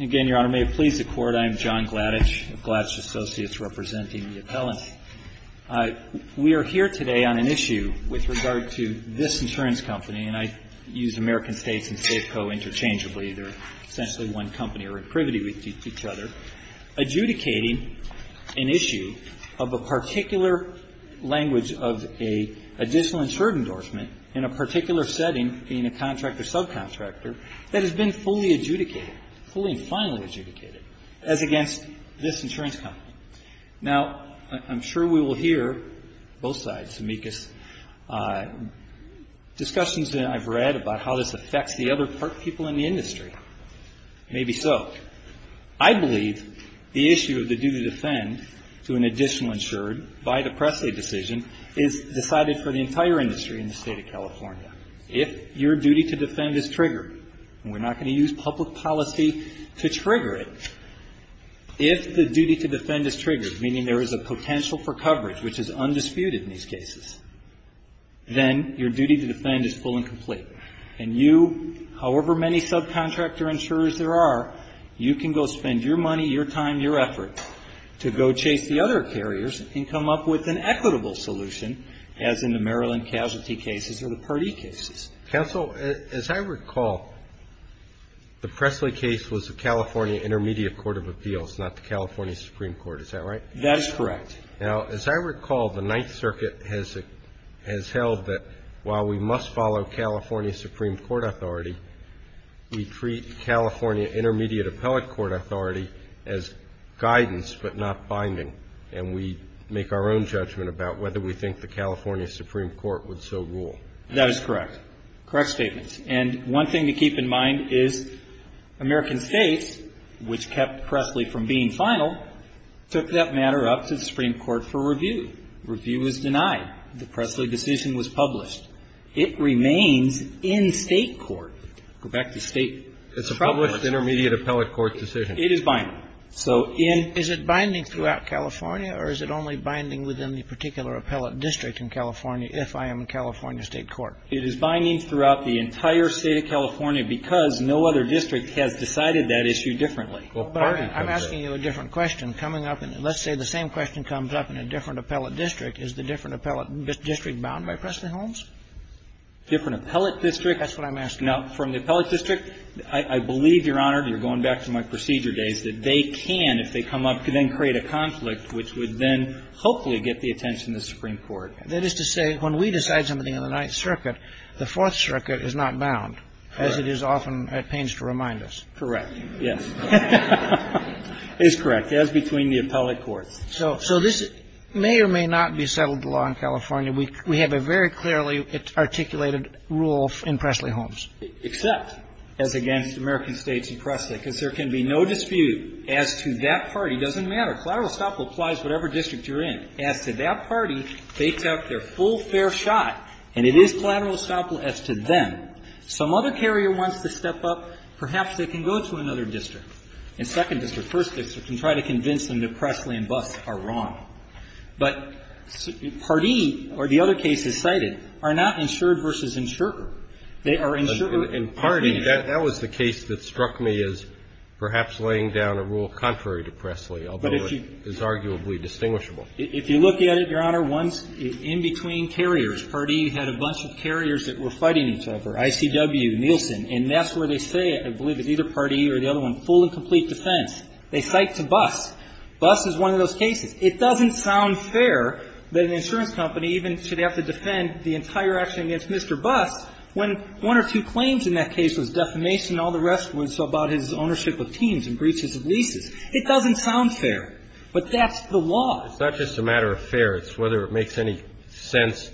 Again, Your Honor, may it please the Court, I am John Gladich of Gladich Associates representing the appellant. We are here today on an issue with regard to this insurance company, and I use American States and Safeco interchangeably. They're essentially one company or in privity with each other, adjudicating an issue of a particular language of an additional insured endorsement in a particular setting, being a contractor, subcontractor, that has been fully adjudicated, fully and finally adjudicated, as against this insurance company. Now, I'm sure we will hear, both sides, amicus, discussions that I've read about how this affects the other people in the industry. Maybe so. I believe the issue of the due to defend to an additional insured by the press aid decision is decided for the entire industry in the State of California. If your duty to defend is triggered, and we're not going to use public policy to trigger it, if the duty to defend is triggered, meaning there is a potential for coverage, which is undisputed in these cases, then your duty to defend is full and complete, and you, however many subcontractor insurers there are, you can go spend your money, your time, your effort to go chase the other carriers and come up with an equitable solution, as in the Maryland Casualty cases or the Pardee cases. Counsel, as I recall, the Pressley case was the California Intermediate Court of Appeals, not the California Supreme Court. Is that right? That is correct. Now, as I recall, the Ninth Circuit has held that while we must follow California Supreme Court authority, we treat California Intermediate Appellate Court authority as guidance but not binding, and we make our own judgment about whether we think the California Supreme Court would so rule. That is correct. Correct statements. And one thing to keep in mind is American States, which kept Pressley from being final, took that matter up to the Supreme Court for review. Review was denied. The Pressley decision was published. It remains in state court. Go back to state. It's a published Intermediate Appellate Court decision. It is binding. So in. Is it binding throughout California, or is it only binding within the particular appellate district in California, if I am in California state court? It is binding throughout the entire State of California because no other district has decided that issue differently. Well, pardon me. I'm asking you a different question. Coming up in the next day, the same question comes up in a different appellate district. Is the different appellate district bound by Pressley-Holmes? Different appellate district? That's what I'm asking. Now, from the appellate district, I believe, Your Honor, and you're going back to my procedure days, that they can, if they come up, then create a conflict, which would then hopefully get the attention of the Supreme Court. That is to say, when we decide something in the Ninth Circuit, the Fourth Circuit is not bound, as it is often at pains to remind us. Correct. Yes. It is correct, as between the appellate courts. So this may or may not be settled law in California. We have a very clearly articulated rule in Pressley-Holmes. Except as against American States and Pressley, because there can be no dispute as to that party. It doesn't matter. Collateral stop applies whatever district you're in. As to that party, they took their full fair shot, and it is collateral stop as to them. Some other carrier wants to step up, perhaps they can go to another district, and second district, first district, and try to convince them that Pressley and Buss are wrong. But Pardee, or the other cases cited, are not insured versus insurer. They are insurer. And Pardee, that was the case that struck me as perhaps laying down a rule contrary to Pressley, although it is arguably distinguishable. If you look at it, Your Honor, one's in between carriers. Pardee had a bunch of carriers that were fighting each other, ICW, Nielsen. And that's where they say, I believe it's either Pardee or the other one, full and complete defense. They cite to Buss. Buss is one of those cases. It doesn't sound fair that an insurance company even should have to defend the entire action against Mr. Buss when one or two claims in that case was defamation and all the rest was about his ownership of teams and breaches of leases. It doesn't sound fair. But that's the law. It's not just a matter of fair. It's whether it makes any sense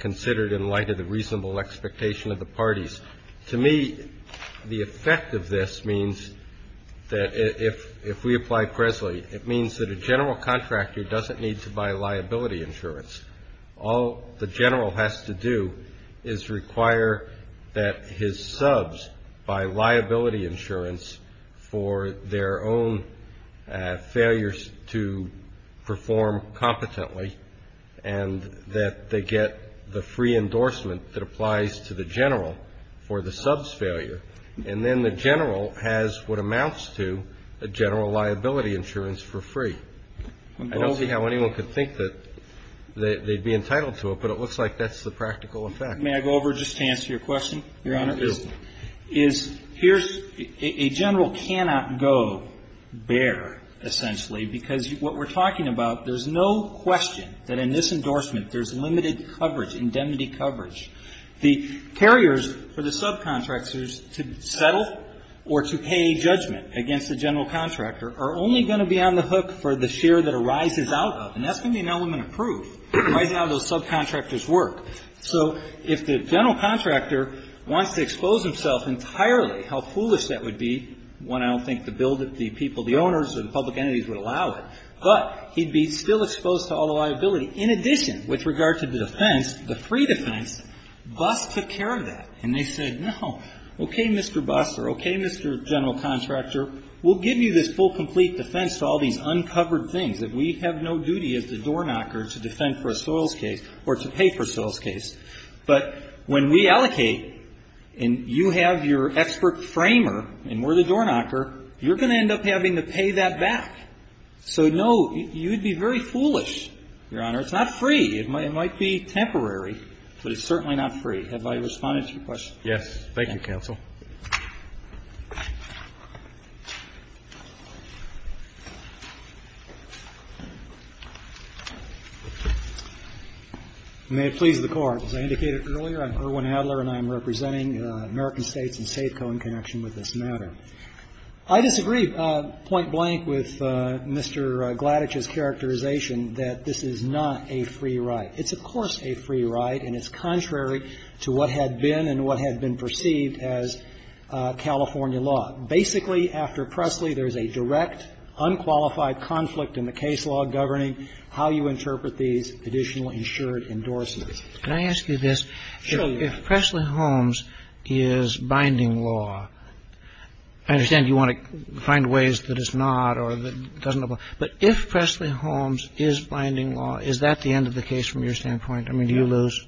considered in light of the reasonable expectation of the parties. To me, the effect of this means that if we apply Pressley, it means that a general contractor doesn't need to buy liability insurance. All the general has to do is require that his subs buy liability insurance for their own failures to perform competently and that they get the free endorsement that applies to the general for the sub's failure. And then the general has what amounts to a general liability insurance for free. I don't see how anyone could think that they'd be entitled to it, but it looks like that's the practical effect. May I go over just to answer your question, Your Honor? Please do. Is here's a general cannot go bare, essentially, because what we're talking about, there's no question that in this endorsement there's limited coverage, indemnity coverage. The carriers for the subcontractors to settle or to pay judgment against the general contractor are only going to be on the hook for the share that arises out of them. And that's going to be an element of proof, right now those subcontractors work. So if the general contractor wants to expose himself entirely, how foolish that would be, one, I don't think the bill that the people, the owners or the public entities would allow it. But he'd be still exposed to all the liability. In addition, with regard to the defense, the free defense, BUS took care of that. And they said, no, okay, Mr. BUS or okay, Mr. General Contractor, we'll give you this full complete defense to all these uncovered things that we have no duty as the door knocker to defend for a soils case or to pay for a soils case. But when we allocate and you have your expert framer and we're the door knocker, you're going to end up having to pay that back. So no, you'd be very foolish, Your Honor. It's not free. It might be temporary, but it's certainly not free. Have I responded to your question? Yes. Thank you, counsel. May it please the Court. As I indicated earlier, I'm Erwin Adler and I'm representing American States and SAFECO in connection with this matter. I disagree point blank with Mr. Gladitch's characterization that this is not a free right. It's, of course, a free right and it's contrary to what had been and what had been perceived as California law. Basically, after Presley, there's a direct unqualified conflict in the case law governing how you interpret these additional insured endorsements. Can I ask you this? If Presley-Holmes is binding law, I understand you want to find ways that it's not or that doesn't apply. But if Presley-Holmes is binding law, is that the end of the case from your standpoint? I mean, do you lose?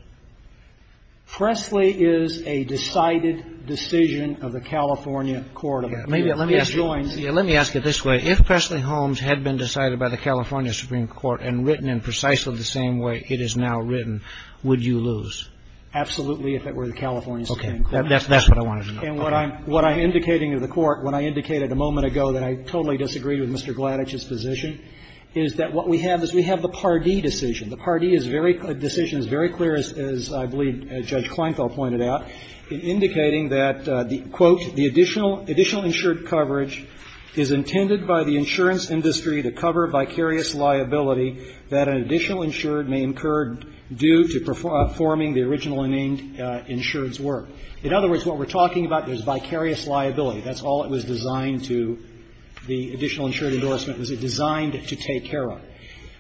Presley is a decided decision of the California court. Maybe. Let me ask you this way. If Presley-Holmes had been decided by the California Supreme Court and written in precisely the same way it is now written, would you lose? Absolutely, if it were the California Supreme Court. Okay. That's what I wanted to know. And what I'm indicating to the Court, what I indicated a moment ago that I totally disagree with Mr. Gladitch's position, is that what we have is we have the Pardee decision. The Pardee decision is very clear, as I believe Judge Kleinfeld pointed out, indicating that, quote, "...the additional insured coverage is intended by the insurance industry to cover vicarious liability that an additional insured may incur due to performing the original insured's work." In other words, what we're talking about is vicarious liability. That's all it was designed to, the additional insured endorsement, was it designed to take care of.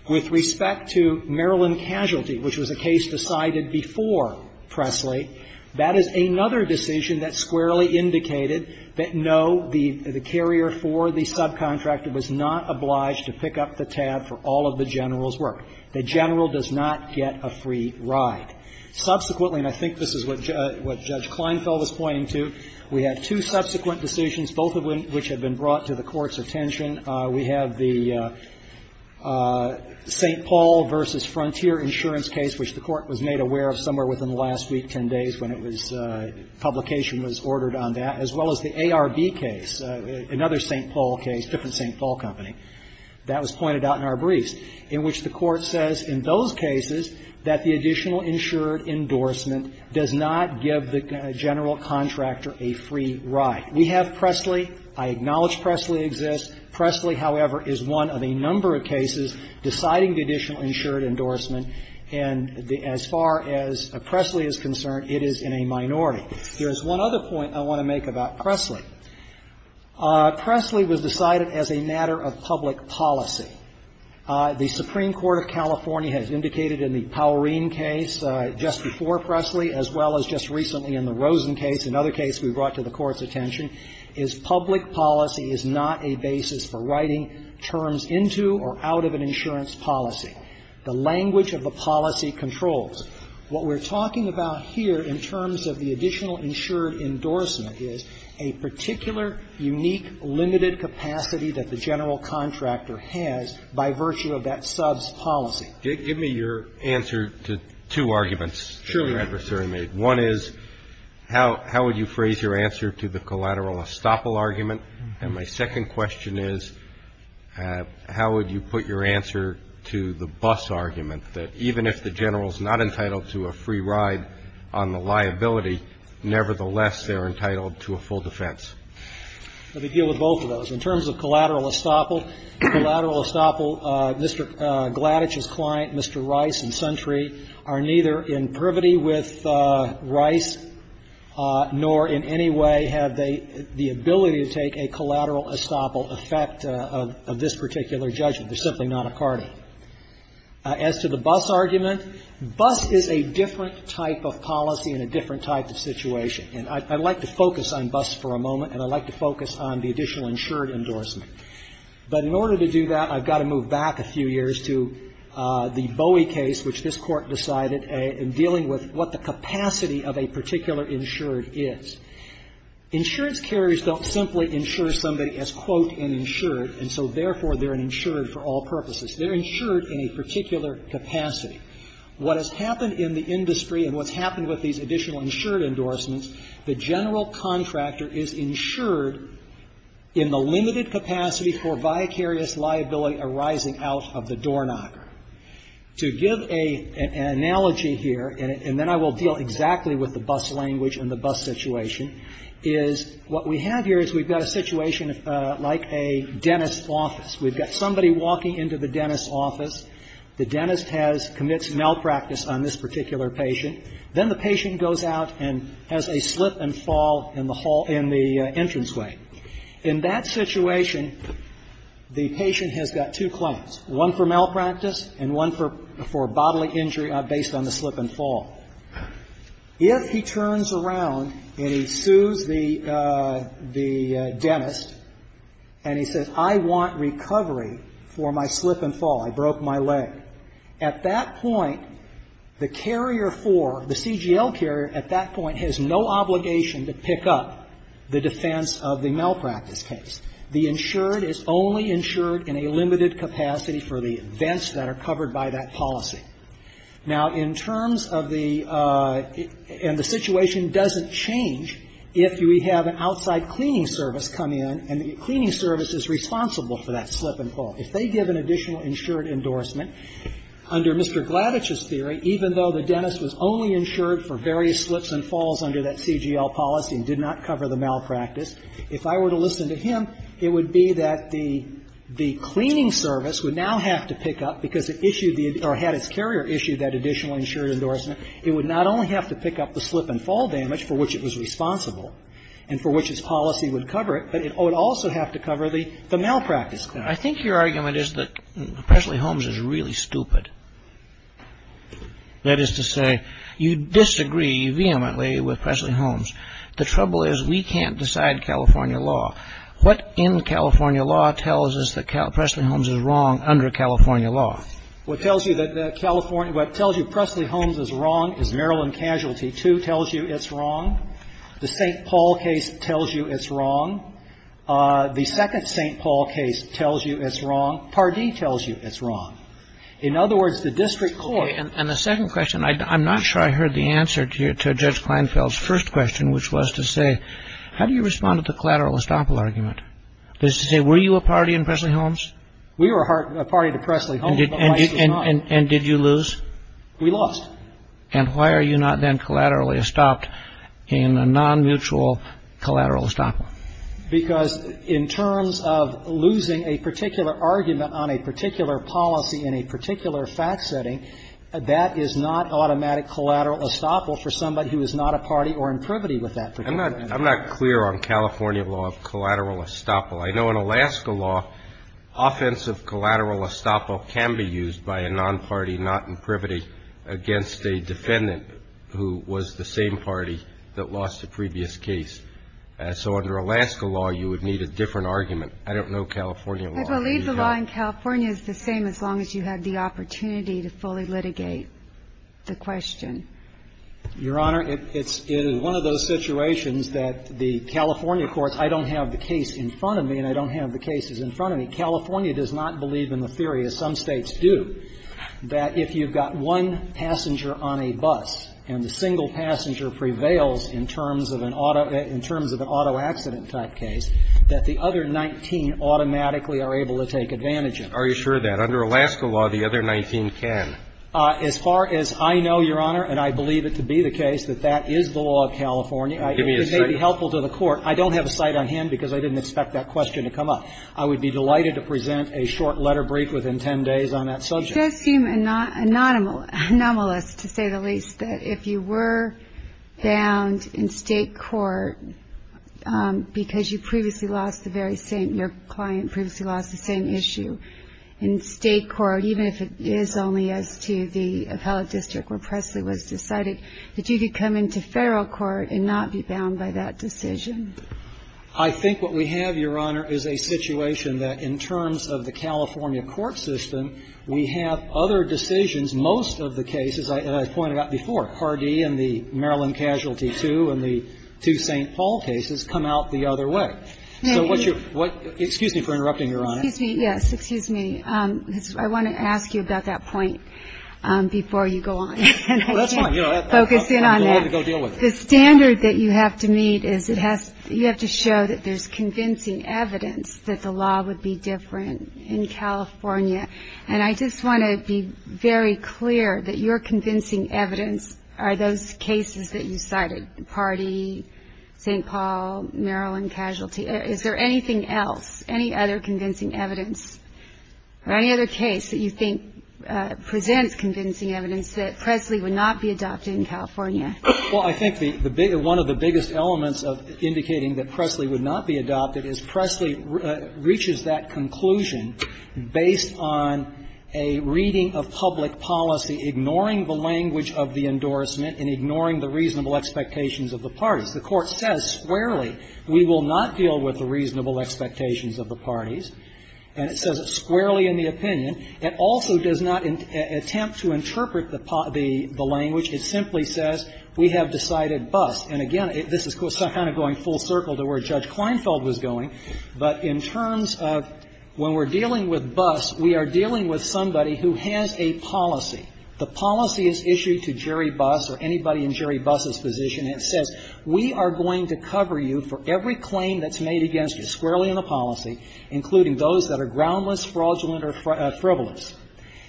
With respect to Maryland Casualty, which was a case decided before Presley, that is another decision that squarely indicated that, no, the carrier for the subcontractor was not obliged to pick up the tab for all of the general's work. The general does not get a free ride. Subsequently, and I think this is what Judge Kleinfeld was pointing to, we have two subsequent decisions, both of which have been brought to the Court's attention. We have the St. Paul v. Frontier insurance case, which the Court was made aware of somewhere within the last week, 10 days, when it was, publication was ordered on that, as well as the ARB case, another St. Paul case, different St. Paul company. That was pointed out in our briefs, in which the Court says in those cases that the additional insured endorsement does not give the general contractor a free ride. We have Presley. I acknowledge Presley exists. Presley, however, is one of a number of cases deciding the additional insured endorsement, and as far as Presley is concerned, it is in a minority. There is one other point I want to make about Presley. Presley was decided as a matter of public policy. The Supreme Court of California has indicated in the Powerine case, just before Presley, as well as just recently in the Rosen case, another case we brought to the Court of Appeals, where the Federal government has indicated that the Federal government has no other basis for writing terms into or out of an insurance policy. The language of the policy controls. What we're talking about here in terms of the additional insured endorsement is a particular, unique, limited capacity that the general contractor has by virtue of that subs policy. Give me your answer to two arguments that your adversary made. One is how would you phrase your answer to the collateral estoppel argument? And my second question is how would you put your answer to the bus argument, that even if the general is not entitled to a free ride on the liability, nevertheless, they're entitled to a full defense? Let me deal with both of those. In terms of collateral estoppel, Mr. Gladich's client, Mr. Rice and Suntree, are neither in privity with Rice, nor in any way have they the ability to take a collateral estoppel effect of this particular judgment. They're simply not a party. As to the bus argument, bus is a different type of policy in a different type of situation. And I'd like to focus on bus for a moment, and I'd like to focus on the additional insured endorsement. But in order to do that, I've got to move back a few years to the Bowie case, which this Court decided in dealing with what the capacity of a particular insured is. Insurance carriers don't simply insure somebody as, quote, an insured, and so therefore, they're an insured for all purposes. They're insured in a particular capacity. What has happened in the industry and what's happened with these additional insured endorsements, the general contractor is insured in the limited capacity for vicarious liability arising out of the doorknocker. To give an analogy here, and then I will deal exactly with the bus language and the bus situation, is what we have here is we've got a situation like a dentist's office. We've got somebody walking into the dentist's office. The dentist has, commits malpractice on this particular patient. Then the patient goes out and has a slip and fall in the hall, in the entranceway. In that situation, the patient has got two claims, one for malpractice and one for bodily injury based on the slip and fall. If he turns around and he sues the dentist and he says, I want recovery for my slip and fall, I broke my leg. At that point, the carrier for, the CGL carrier at that point has no obligation to pick up the defense of the malpractice case. The insured is only insured in a limited capacity for the events that are covered by that policy. Now, in terms of the, and the situation doesn't change if we have an outside cleaning service come in and the cleaning service is responsible for that slip and fall. If they give an additional insured endorsement, under Mr. Gladich's theory, even though the dentist was only insured for various slips and falls under that CGL policy and did not cover the malpractice, if I were to listen to him, it would be that the, the cleaning service would now have to pick up, because it issued the, or had its carrier issued that additional insured endorsement, it would not only have to pick up the slip and fall damage for which it was responsible and for which its policy would cover it, but it would also have to cover the, the malpractice claim. I think your argument is that Presley-Holmes is really stupid. That is to say, you disagree vehemently with Presley-Holmes. The trouble is we can't decide California law. What in California law tells us that Presley-Holmes is wrong under California law? What tells you that California, what tells you Presley-Holmes is wrong is Maryland Casualty 2 tells you it's wrong. The St. Paul case tells you it's wrong. The second St. Paul case tells you it's wrong. Pardee tells you it's wrong. In other words, the district court. And the second question, I'm not sure I heard the answer to Judge Kleinfeld's first question, which was to say, how do you respond to the collateral estoppel argument? That is to say, were you a party in Presley-Holmes? We were a party to Presley-Holmes, but we were not. And did you lose? We lost. And why are you not then collaterally estopped in a non-mutual collateral estoppel? Because in terms of losing a particular argument on a particular policy in a particular fact setting, that is not automatic collateral estoppel for somebody who is not a party or in privity with that particular argument. I'm not clear on California law of collateral estoppel. I know in Alaska law, offensive collateral estoppel can be used by a non-party, not in privity against a defendant who was the same party that lost a previous case. So under Alaska law, you would need a different argument. I don't know California law. I believe the law in California is the same as long as you have the opportunity to fully litigate the question. Your Honor, it is one of those situations that the California courts, I don't have the case in front of me and I don't have the cases in front of me. California does not believe in the theory, as some States do, that if you've got one passenger on a bus and the single passenger prevails in terms of an auto or in terms of an auto accident type case, that the other 19 automatically are able to take advantage of it. Are you sure that under Alaska law, the other 19 can? As far as I know, Your Honor, and I believe it to be the case that that is the law of California, it may be helpful to the court. I don't have a cite on hand because I didn't expect that question to come up. I would be delighted to present a short letter brief within 10 days on that subject. It does seem anomalous, to say the least, that if you were found in State court because you previously lost the very same, your client previously lost the same issue in State court, even if it is only as to the appellate district where Presley was decided, that you could come into Federal court and not be bound by that decision? I think what we have, Your Honor, is a situation that in terms of the California court system, we have other decisions. Most of the cases, as I pointed out before, Hardy and the Maryland Casualty II and St. Paul cases come out the other way. Excuse me for interrupting, Your Honor. Yes, excuse me. I want to ask you about that point before you go on. That's fine. Focus in on that. The standard that you have to meet is you have to show that there is convincing evidence that the law would be different in California. And I just want to be very clear that your convincing evidence are those cases that you cited, Hardy, St. Paul, Maryland Casualty. Is there anything else, any other convincing evidence or any other case that you think presents convincing evidence that Presley would not be adopted in California? Well, I think the big, one of the biggest elements of indicating that Presley would not be adopted is Presley reaches that conclusion based on a reading of public policy, ignoring the language of the endorsement and ignoring the reasonable expectations of the parties. The Court says squarely we will not deal with the reasonable expectations of the parties, and it says it squarely in the opinion. It also does not attempt to interpret the language. It simply says we have decided bust. And, again, this is kind of going full circle to where Judge Kleinfeld was going. But in terms of when we're dealing with bust, we are dealing with somebody who has a policy. The policy is issued to Jerry Bust or anybody in Jerry Bust's position, and it says we are going to cover you for every claim that's made against you, squarely in the policy, including those that are groundless, fraudulent, or frivolous.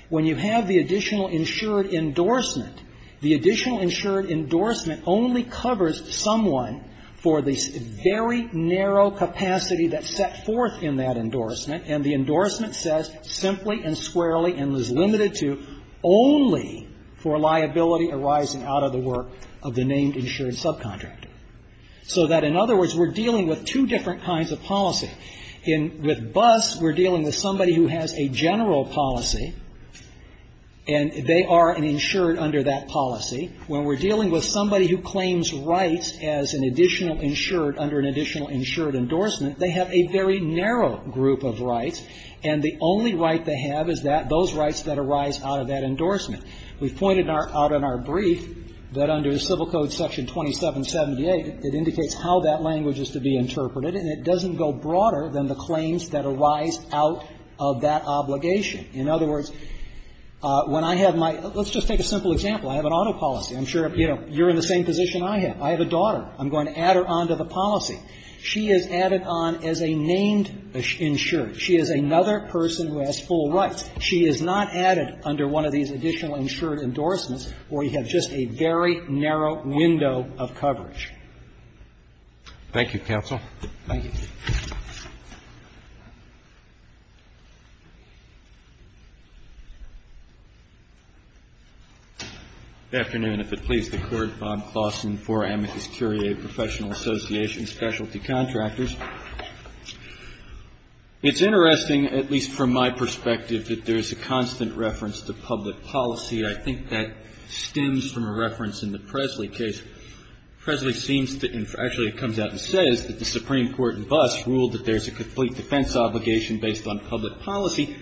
When you have the additional insured endorsement, the additional insured endorsement only covers someone for the very narrow capacity that's set forth in that endorsement, and the endorsement says simply and squarely and is limited to only for liability arising out of the work of the named insured subcontractor. So that, in other words, we're dealing with two different kinds of policy. In the bust, we're dealing with somebody who has a general policy, and they are an insured under that policy. When we're dealing with somebody who claims rights as an additional insured under an additional insured endorsement, they have a very narrow group of rights, and the only right they have is that those rights that arise out of that endorsement. We've pointed out in our brief that under Civil Code Section 2778, it indicates how that language is to be interpreted, and it doesn't go broader than the claims that arise out of that obligation. In other words, when I have my – let's just take a simple example. I have an auto policy. I'm sure, you know, you're in the same position I have. I have a daughter. I'm going to add her on to the policy. She is added on as a named insured. She is another person who has full rights. She is not added under one of these additional insured endorsements, where you have just a very narrow window of coverage. Roberts, Thank you, counsel. Roberts, Thank you. Good afternoon. If it please the Court, Bob Claussen for Amicus Curiae Professional Association Specialty Contractors. It's interesting, at least from my perspective, that there is a constant reference to public policy. I think that stems from a reference in the Presley case. Presley seems to – actually, it comes out and says that the Supreme Court in Buss ruled that there is a complete defense obligation based on public policy.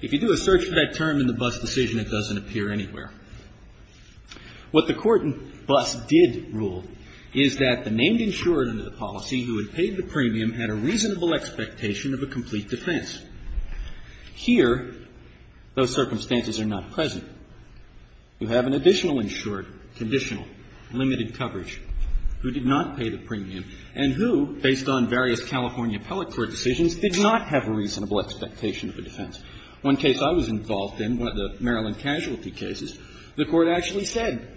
If you do a search for that term in the Buss decision, it doesn't appear anywhere. What the Court in Buss did rule is that the named insured under the policy who had paid the premium had a reasonable expectation of a complete defense. Here, those circumstances are not present. You have an additional insured, conditional, limited coverage, who did not pay the premium and who, based on various California appellate court decisions, did not have a reasonable expectation of a defense. One case I was involved in, one of the Maryland casualty cases, the Court actually said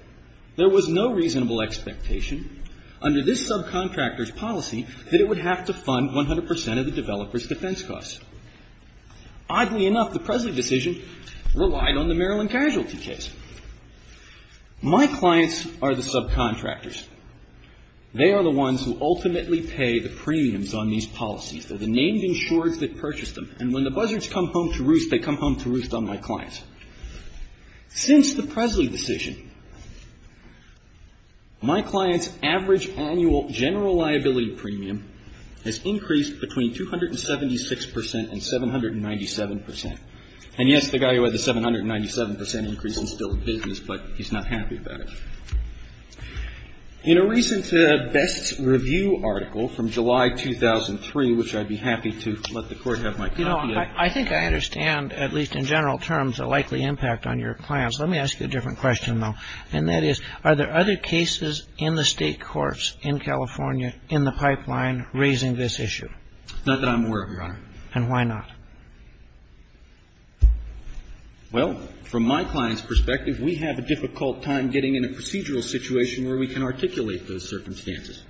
there was no reasonable expectation under this subcontractor's policy that it would have to fund 100 percent of the developer's defense costs. Oddly enough, the Presley decision relied on the Maryland casualty case. My clients are the subcontractors. They are the ones who ultimately pay the premiums on these policies. They're the named insureds that purchase them. And when the buzzards come home to roost, they come home to roost on my clients. Since the Presley decision, my client's average annual general liability premium has increased between 276 percent and 797 percent. And, yes, the guy who had the 797 percent increase is still in business, but he's not happy about it. In a recent Best Review article from July 2003, which I'd be happy to let the Court have my copy of. I think I understand, at least in general terms, the likely impact on your clients. Let me ask you a different question, though, and that is, are there other cases in the State courts in California, in the pipeline, raising this issue? Not that I'm aware of, Your Honor. And why not? Well, from my client's perspective, we have a difficult time getting in a procedural situation where we can articulate those circumstances.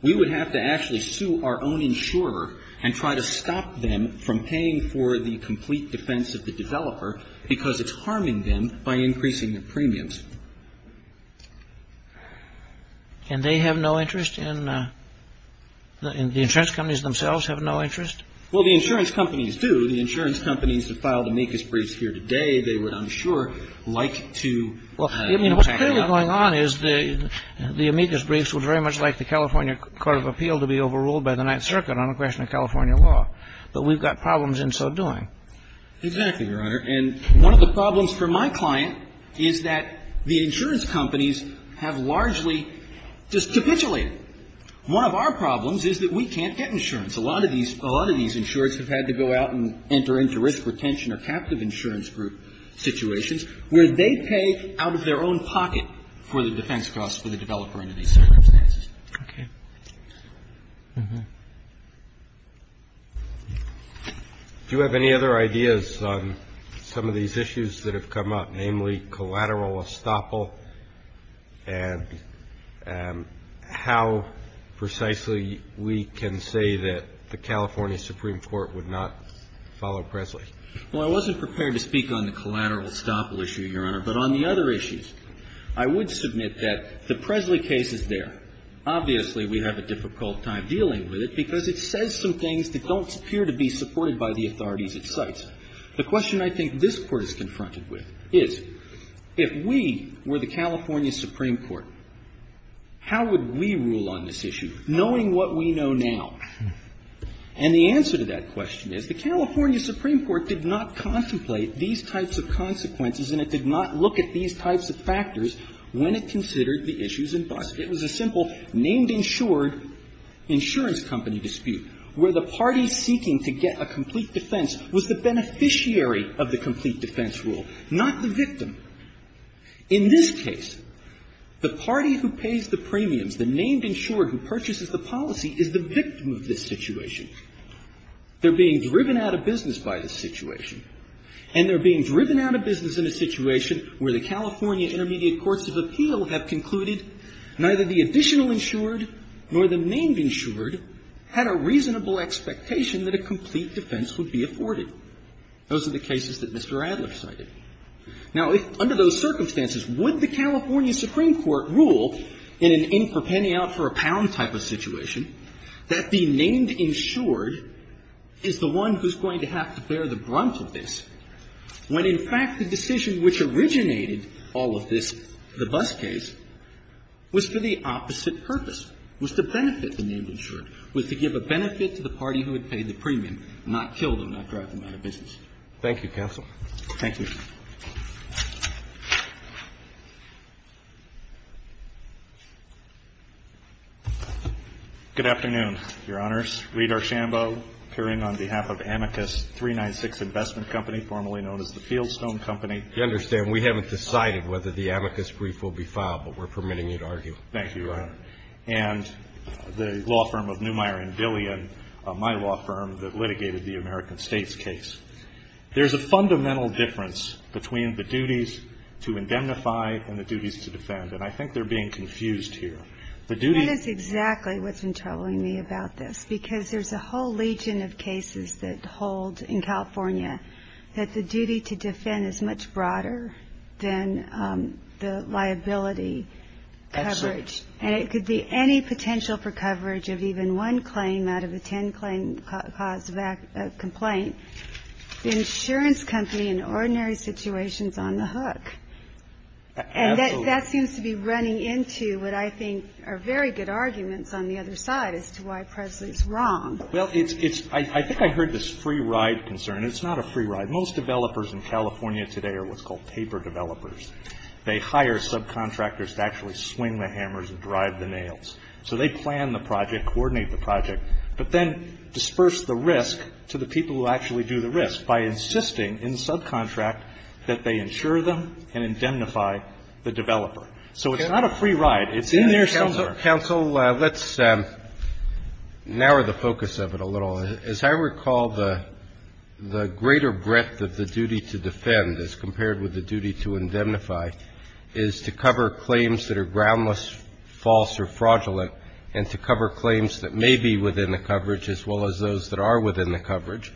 We would have to actually sue our own insurer and try to stop them from paying for the complete defense of the developer because it's harming them by increasing their premiums. And they have no interest in the insurance companies themselves have no interest? Well, the insurance companies do. The insurance companies have filed amicus briefs here today. They would, I'm sure, like to tackle that. Well, I mean, what's clearly going on is the amicus briefs would very much like the California Court of Appeal to be overruled by the Ninth Circuit on a question of California law. But we've got problems in so doing. Exactly, Your Honor. And one of the problems for my client is that the insurance companies have largely just capitulated. One of our problems is that we can't get insurance. A lot of these insurers have had to go out and enter into risk retention or captive insurance group situations where they pay out of their own pocket for the defense costs for the developer under these circumstances. Okay. Do you have any other ideas on some of these issues that have come up, namely collateral estoppel and how precisely we can say that the California Supreme Court would not follow Presley? Well, I wasn't prepared to speak on the collateral estoppel issue, Your Honor. But on the other issues, I would submit that the Presley case is there. Obviously, we have a difficult time dealing with it because it says some things that don't appear to be supported by the authorities it cites. The question I think this Court is confronted with is, if we were the California Supreme Court, how would we rule on this issue, knowing what we know now? And the answer to that question is the California Supreme Court did not contemplate these types of consequences and it did not look at these types of factors when it considered the issues in question. It was a simple named insured insurance company dispute where the party seeking to get a complete defense was the beneficiary of the complete defense rule, not the victim. In this case, the party who pays the premiums, the named insured who purchases the policy, is the victim of this situation. They're being driven out of business by this situation, and they're being driven out of business in a situation where the California Intermediate Courts of Appeal have concluded neither the additional insured nor the named insured had a reasonable expectation that a complete defense would be afforded. Those are the cases that Mr. Adler cited. Now, under those circumstances, would the California Supreme Court rule in an in-for-penny-out-for-a-pound type of situation that the named insured is the one who's going to have to bear the brunt of this when, in fact, the decision which originated all of this, the bus case, was for the opposite purpose, was to benefit the named insured, was to give a benefit to the party who had paid the premium, not kill them, not drive them out of business? Thank you, counsel. Thank you. Good afternoon, Your Honors. Reed Archambault, appearing on behalf of Amicus 396 Investment Company, formerly known as the Fieldstone Company. You understand we haven't decided whether the amicus brief will be filed, but we're permitting you to argue. Thank you, Your Honor. And the law firm of Neumayer & Dillian, my law firm that litigated the American States case. There's a fundamental difference between the duties to indemnify and the duties to defend, and I think they're being confused here. The duty to defend That is exactly what's been troubling me about this, because there's a whole legion of cases that hold in California that the duty to defend is much broader than the liability coverage. And it could be any potential for coverage of even one claim out of a ten-claim cause of complaint. The insurance company in ordinary situations is on the hook, and that seems to be running into what I think are very good arguments on the other side as to why Presley's wrong. Well, I think I heard this free ride concern. It's not a free ride. Most developers in California today are what's called paper developers. They hire subcontractors to actually swing the hammers and drive the nails. So they plan the project, coordinate the project, but then disperse the risk to the people who actually do the risk by insisting in the subcontract that they insure them and indemnify the developer. So it's not a free ride. It's in there somewhere. Counsel, let's narrow the focus of it a little. As I recall, the greater breadth of the duty to defend as compared with the duty to indemnify is to cover claims that are groundless, false, or fraudulent, and to cover claims that may be within the coverage as well as those that are within the coverage.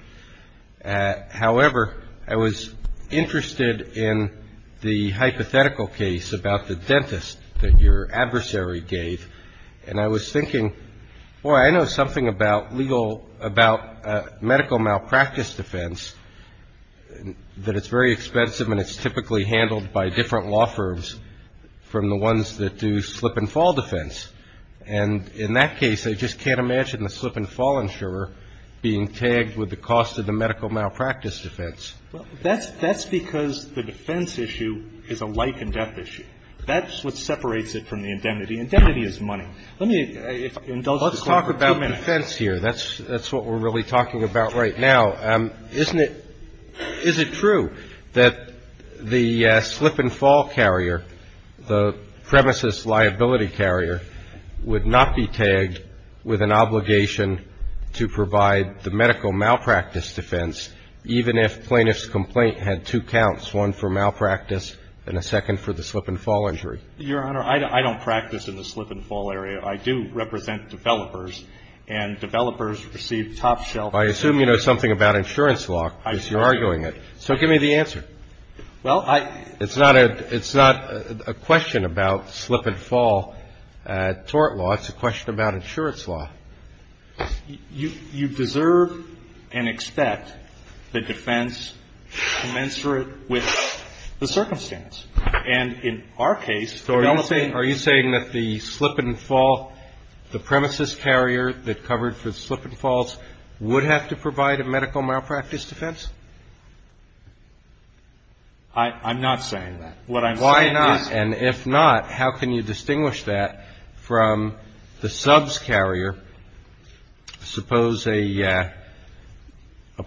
However, I was interested in the hypothetical case about the dentist that your adversary gave, and I was thinking, boy, I know something about legal medical malpractice defense, that it's very expensive and it's typically handled by different law firms from the ones that do slip and fall defense. And in that case, I just can't imagine the slip and fall insurer being tagged with the cost of the medical malpractice defense. That's because the defense issue is a life and death issue. That's what separates it from the indemnity. Indemnity is money. Let me, if I indulge this for a few minutes. Let's talk about defense here. That's what we're really talking about right now. Isn't it, is it true that the slip and fall carrier, the premises liability carrier, would not be tagged with an obligation to provide the medical malpractice defense even if plaintiff's complaint had two counts, one for malpractice and a second for the slip and fall injury? Your Honor, I don't practice in the slip and fall area. I do represent developers, and developers receive top shelf- I assume you know something about insurance law, because you're arguing it. So give me the answer. Well, I- It's not a, it's not a question about slip and fall tort law. It's a question about insurance law. You, you deserve and expect the defense commensurate with the circumstance. And in our case- So are you saying, are you saying that the slip and fall, the premises carrier that covered for slip and falls would have to provide a medical malpractice defense? I, I'm not saying that. What I'm saying is- Why not? And if not, how can you distinguish that from the subs carrier? Suppose a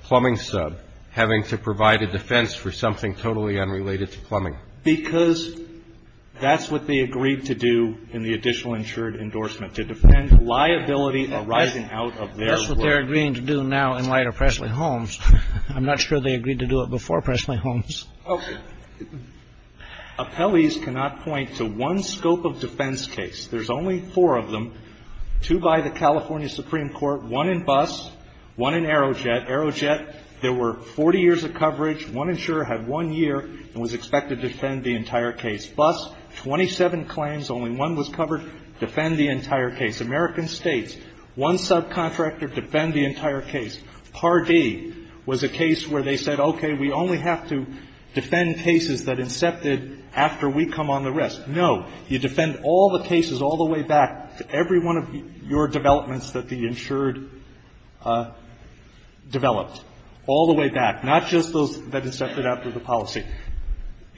plumbing sub having to provide a defense for something totally unrelated to plumbing. Because that's what they agreed to do in the additional insured endorsement, to defend liability arising out of their work. That's what they're agreeing to do now in light of Pressley-Holmes. I'm not sure they agreed to do it before Pressley-Holmes. Okay. Appellees cannot point to one scope of defense case. There's only four of them, two by the California Supreme Court, one in bus, one in Aerojet. Aerojet, there were 40 years of coverage. One insurer had one year and was expected to defend the entire case. Bus, 27 claims, only one was covered, defend the entire case. American States, one subcontractor defend the entire case. Pardee was a case where they said, okay, we only have to defend cases that incepted after we come on the rest. No, you defend all the cases all the way back to every one of your developments that the insured developed, all the way back. Not just those that incepted after the policy.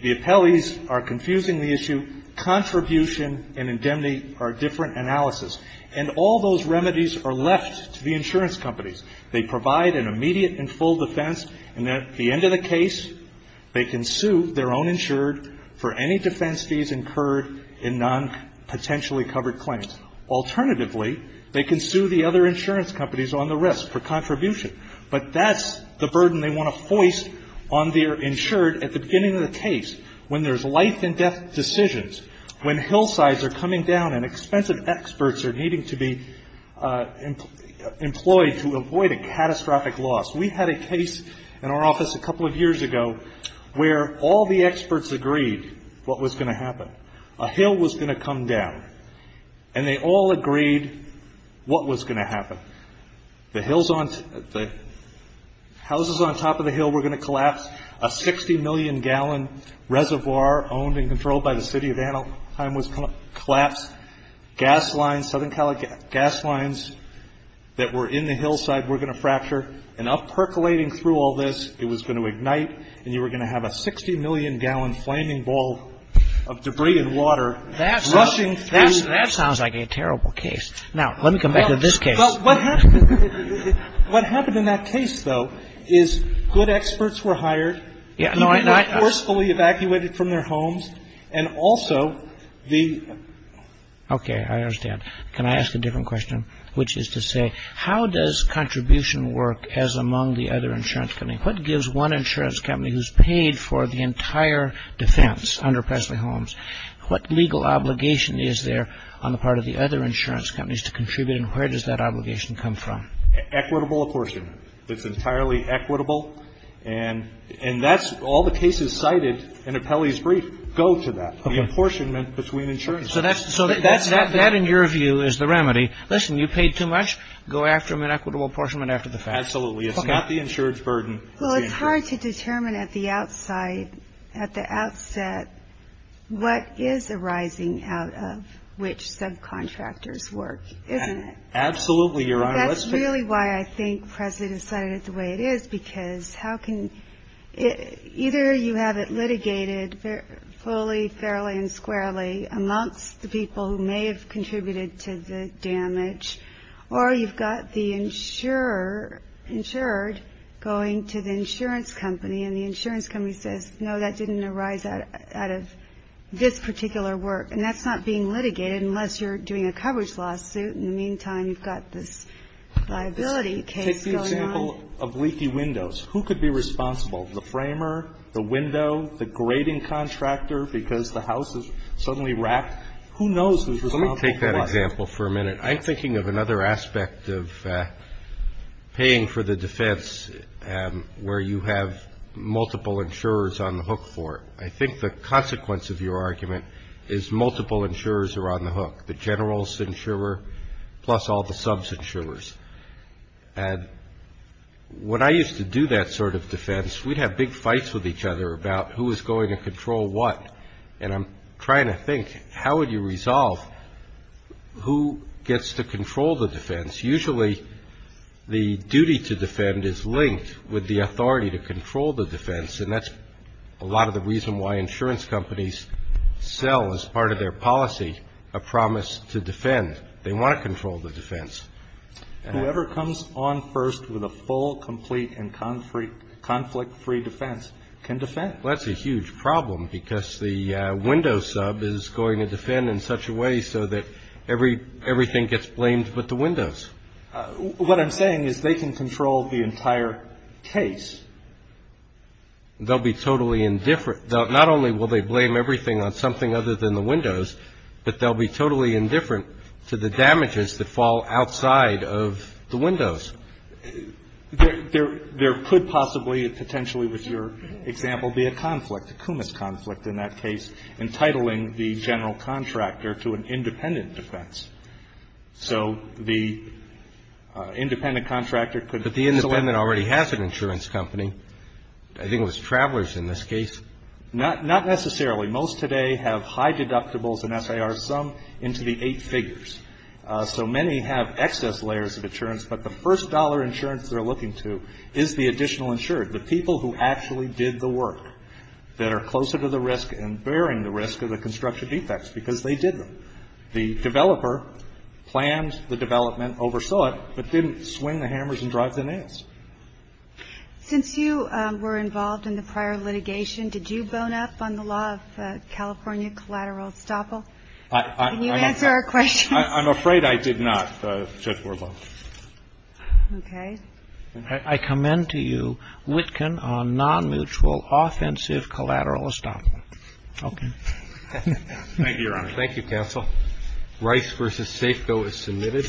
The appellees are confusing the issue. Contribution and indemnity are different analysis. And all those remedies are left to the insurance companies. They provide an immediate and full defense. And at the end of the case, they can sue their own insured for any defense fees incurred in non-potentially covered claims. Alternatively, they can sue the other insurance companies on the rest for contribution. But that's the burden they want to foist on their insured at the beginning of the case, when there's life and death decisions, when hillsides are coming down and expensive experts are needing to be employed to avoid a catastrophic loss. We had a case in our office a couple of years ago, where all the experts agreed what was going to happen. A hill was going to come down, and they all agreed what was going to happen. The houses on top of the hill were going to collapse. A 60 million gallon reservoir owned and controlled by the city of Anaheim was going to collapse. Gas lines, southern gas lines that were in the hillside were going to fracture. And up percolating through all this, it was going to ignite, and you were going to have a 60 million gallon flaming ball of debris and water. That sounds like a terrible case. Now, let me come back to this case. Well, what happened in that case, though, is good experts were hired. People were forcefully evacuated from their homes. And also, the- Okay, I understand. Can I ask a different question? Which is to say, how does contribution work as among the other insurance companies? What gives one insurance company who's paid for the entire defense under Presley Homes? What legal obligation is there on the part of the other insurance companies to determine where that legal obligation comes from? Equitable apportionment. It's entirely equitable. And that's all the cases cited in Apelli's brief go to that, the apportionment between insurance companies. So that, in your view, is the remedy. Listen, you paid too much, go after them in equitable apportionment after the fact. Absolutely. It's not the insurance burden. Well, it's hard to determine at the outside, at the outset, what is arising out of which subcontractors work, isn't it? Absolutely, Your Honor. That's really why I think Presley decided it the way it is. Because how can, either you have it litigated fully, fairly, and squarely amongst the people who may have contributed to the damage. Or you've got the insurer, insured, going to the insurance company. And the insurance company says, no, that didn't arise out of this particular work. And that's not being litigated unless you're doing a coverage lawsuit. In the meantime, you've got this liability case going on. Take the example of leaky windows. Who could be responsible? The framer, the window, the grading contractor, because the house is suddenly racked, who knows who's responsible for that? Let me take that example for a minute. I'm thinking of another aspect of paying for the defense, where you have multiple insurers on the hook for it. I think the consequence of your argument is multiple insurers are on the hook. The general's insurer, plus all the sub's insurers. And when I used to do that sort of defense, we'd have big fights with each other about who was going to control what. And I'm trying to think, how would you resolve who gets to control the defense? Usually, the duty to defend is linked with the authority to control the defense. And that's a lot of the reason why insurance companies sell, as part of their policy, a promise to defend. They want to control the defense. Whoever comes on first with a full, complete, and conflict-free defense can defend. Well, that's a huge problem, because the window sub is going to defend in such a way so that everything gets blamed but the windows. What I'm saying is they can control the entire case. They'll be totally indifferent. Not only will they blame everything on something other than the windows, but they'll be totally indifferent to the damages that fall outside of the windows. There could possibly, potentially with your example, be a conflict, a cumus conflict in that case, entitling the general contractor to an independent defense. So the independent contractor could. But the independent already has an insurance company. I think it was Travelers in this case. Not necessarily. Most today have high deductibles and SIRs, some into the eight figures. So many have excess layers of insurance. But the first dollar insurance they're looking to is the additional insured, the people who actually did the work, that are closer to the risk and bearing the risk of the construction defects, because they did them. The developer planned the development, oversaw it, but didn't swing the hammers and drive the nails. Since you were involved in the prior litigation, did you bone up on the law of California collateral estoppel? Can you answer our question? I'm afraid I did not, Judge Warblow. Okay. I commend to you Witkin on non-mutual offensive collateral estoppel. Okay. Thank you, Your Honor. Thank you, counsel. Rice v. Safeco is submitted.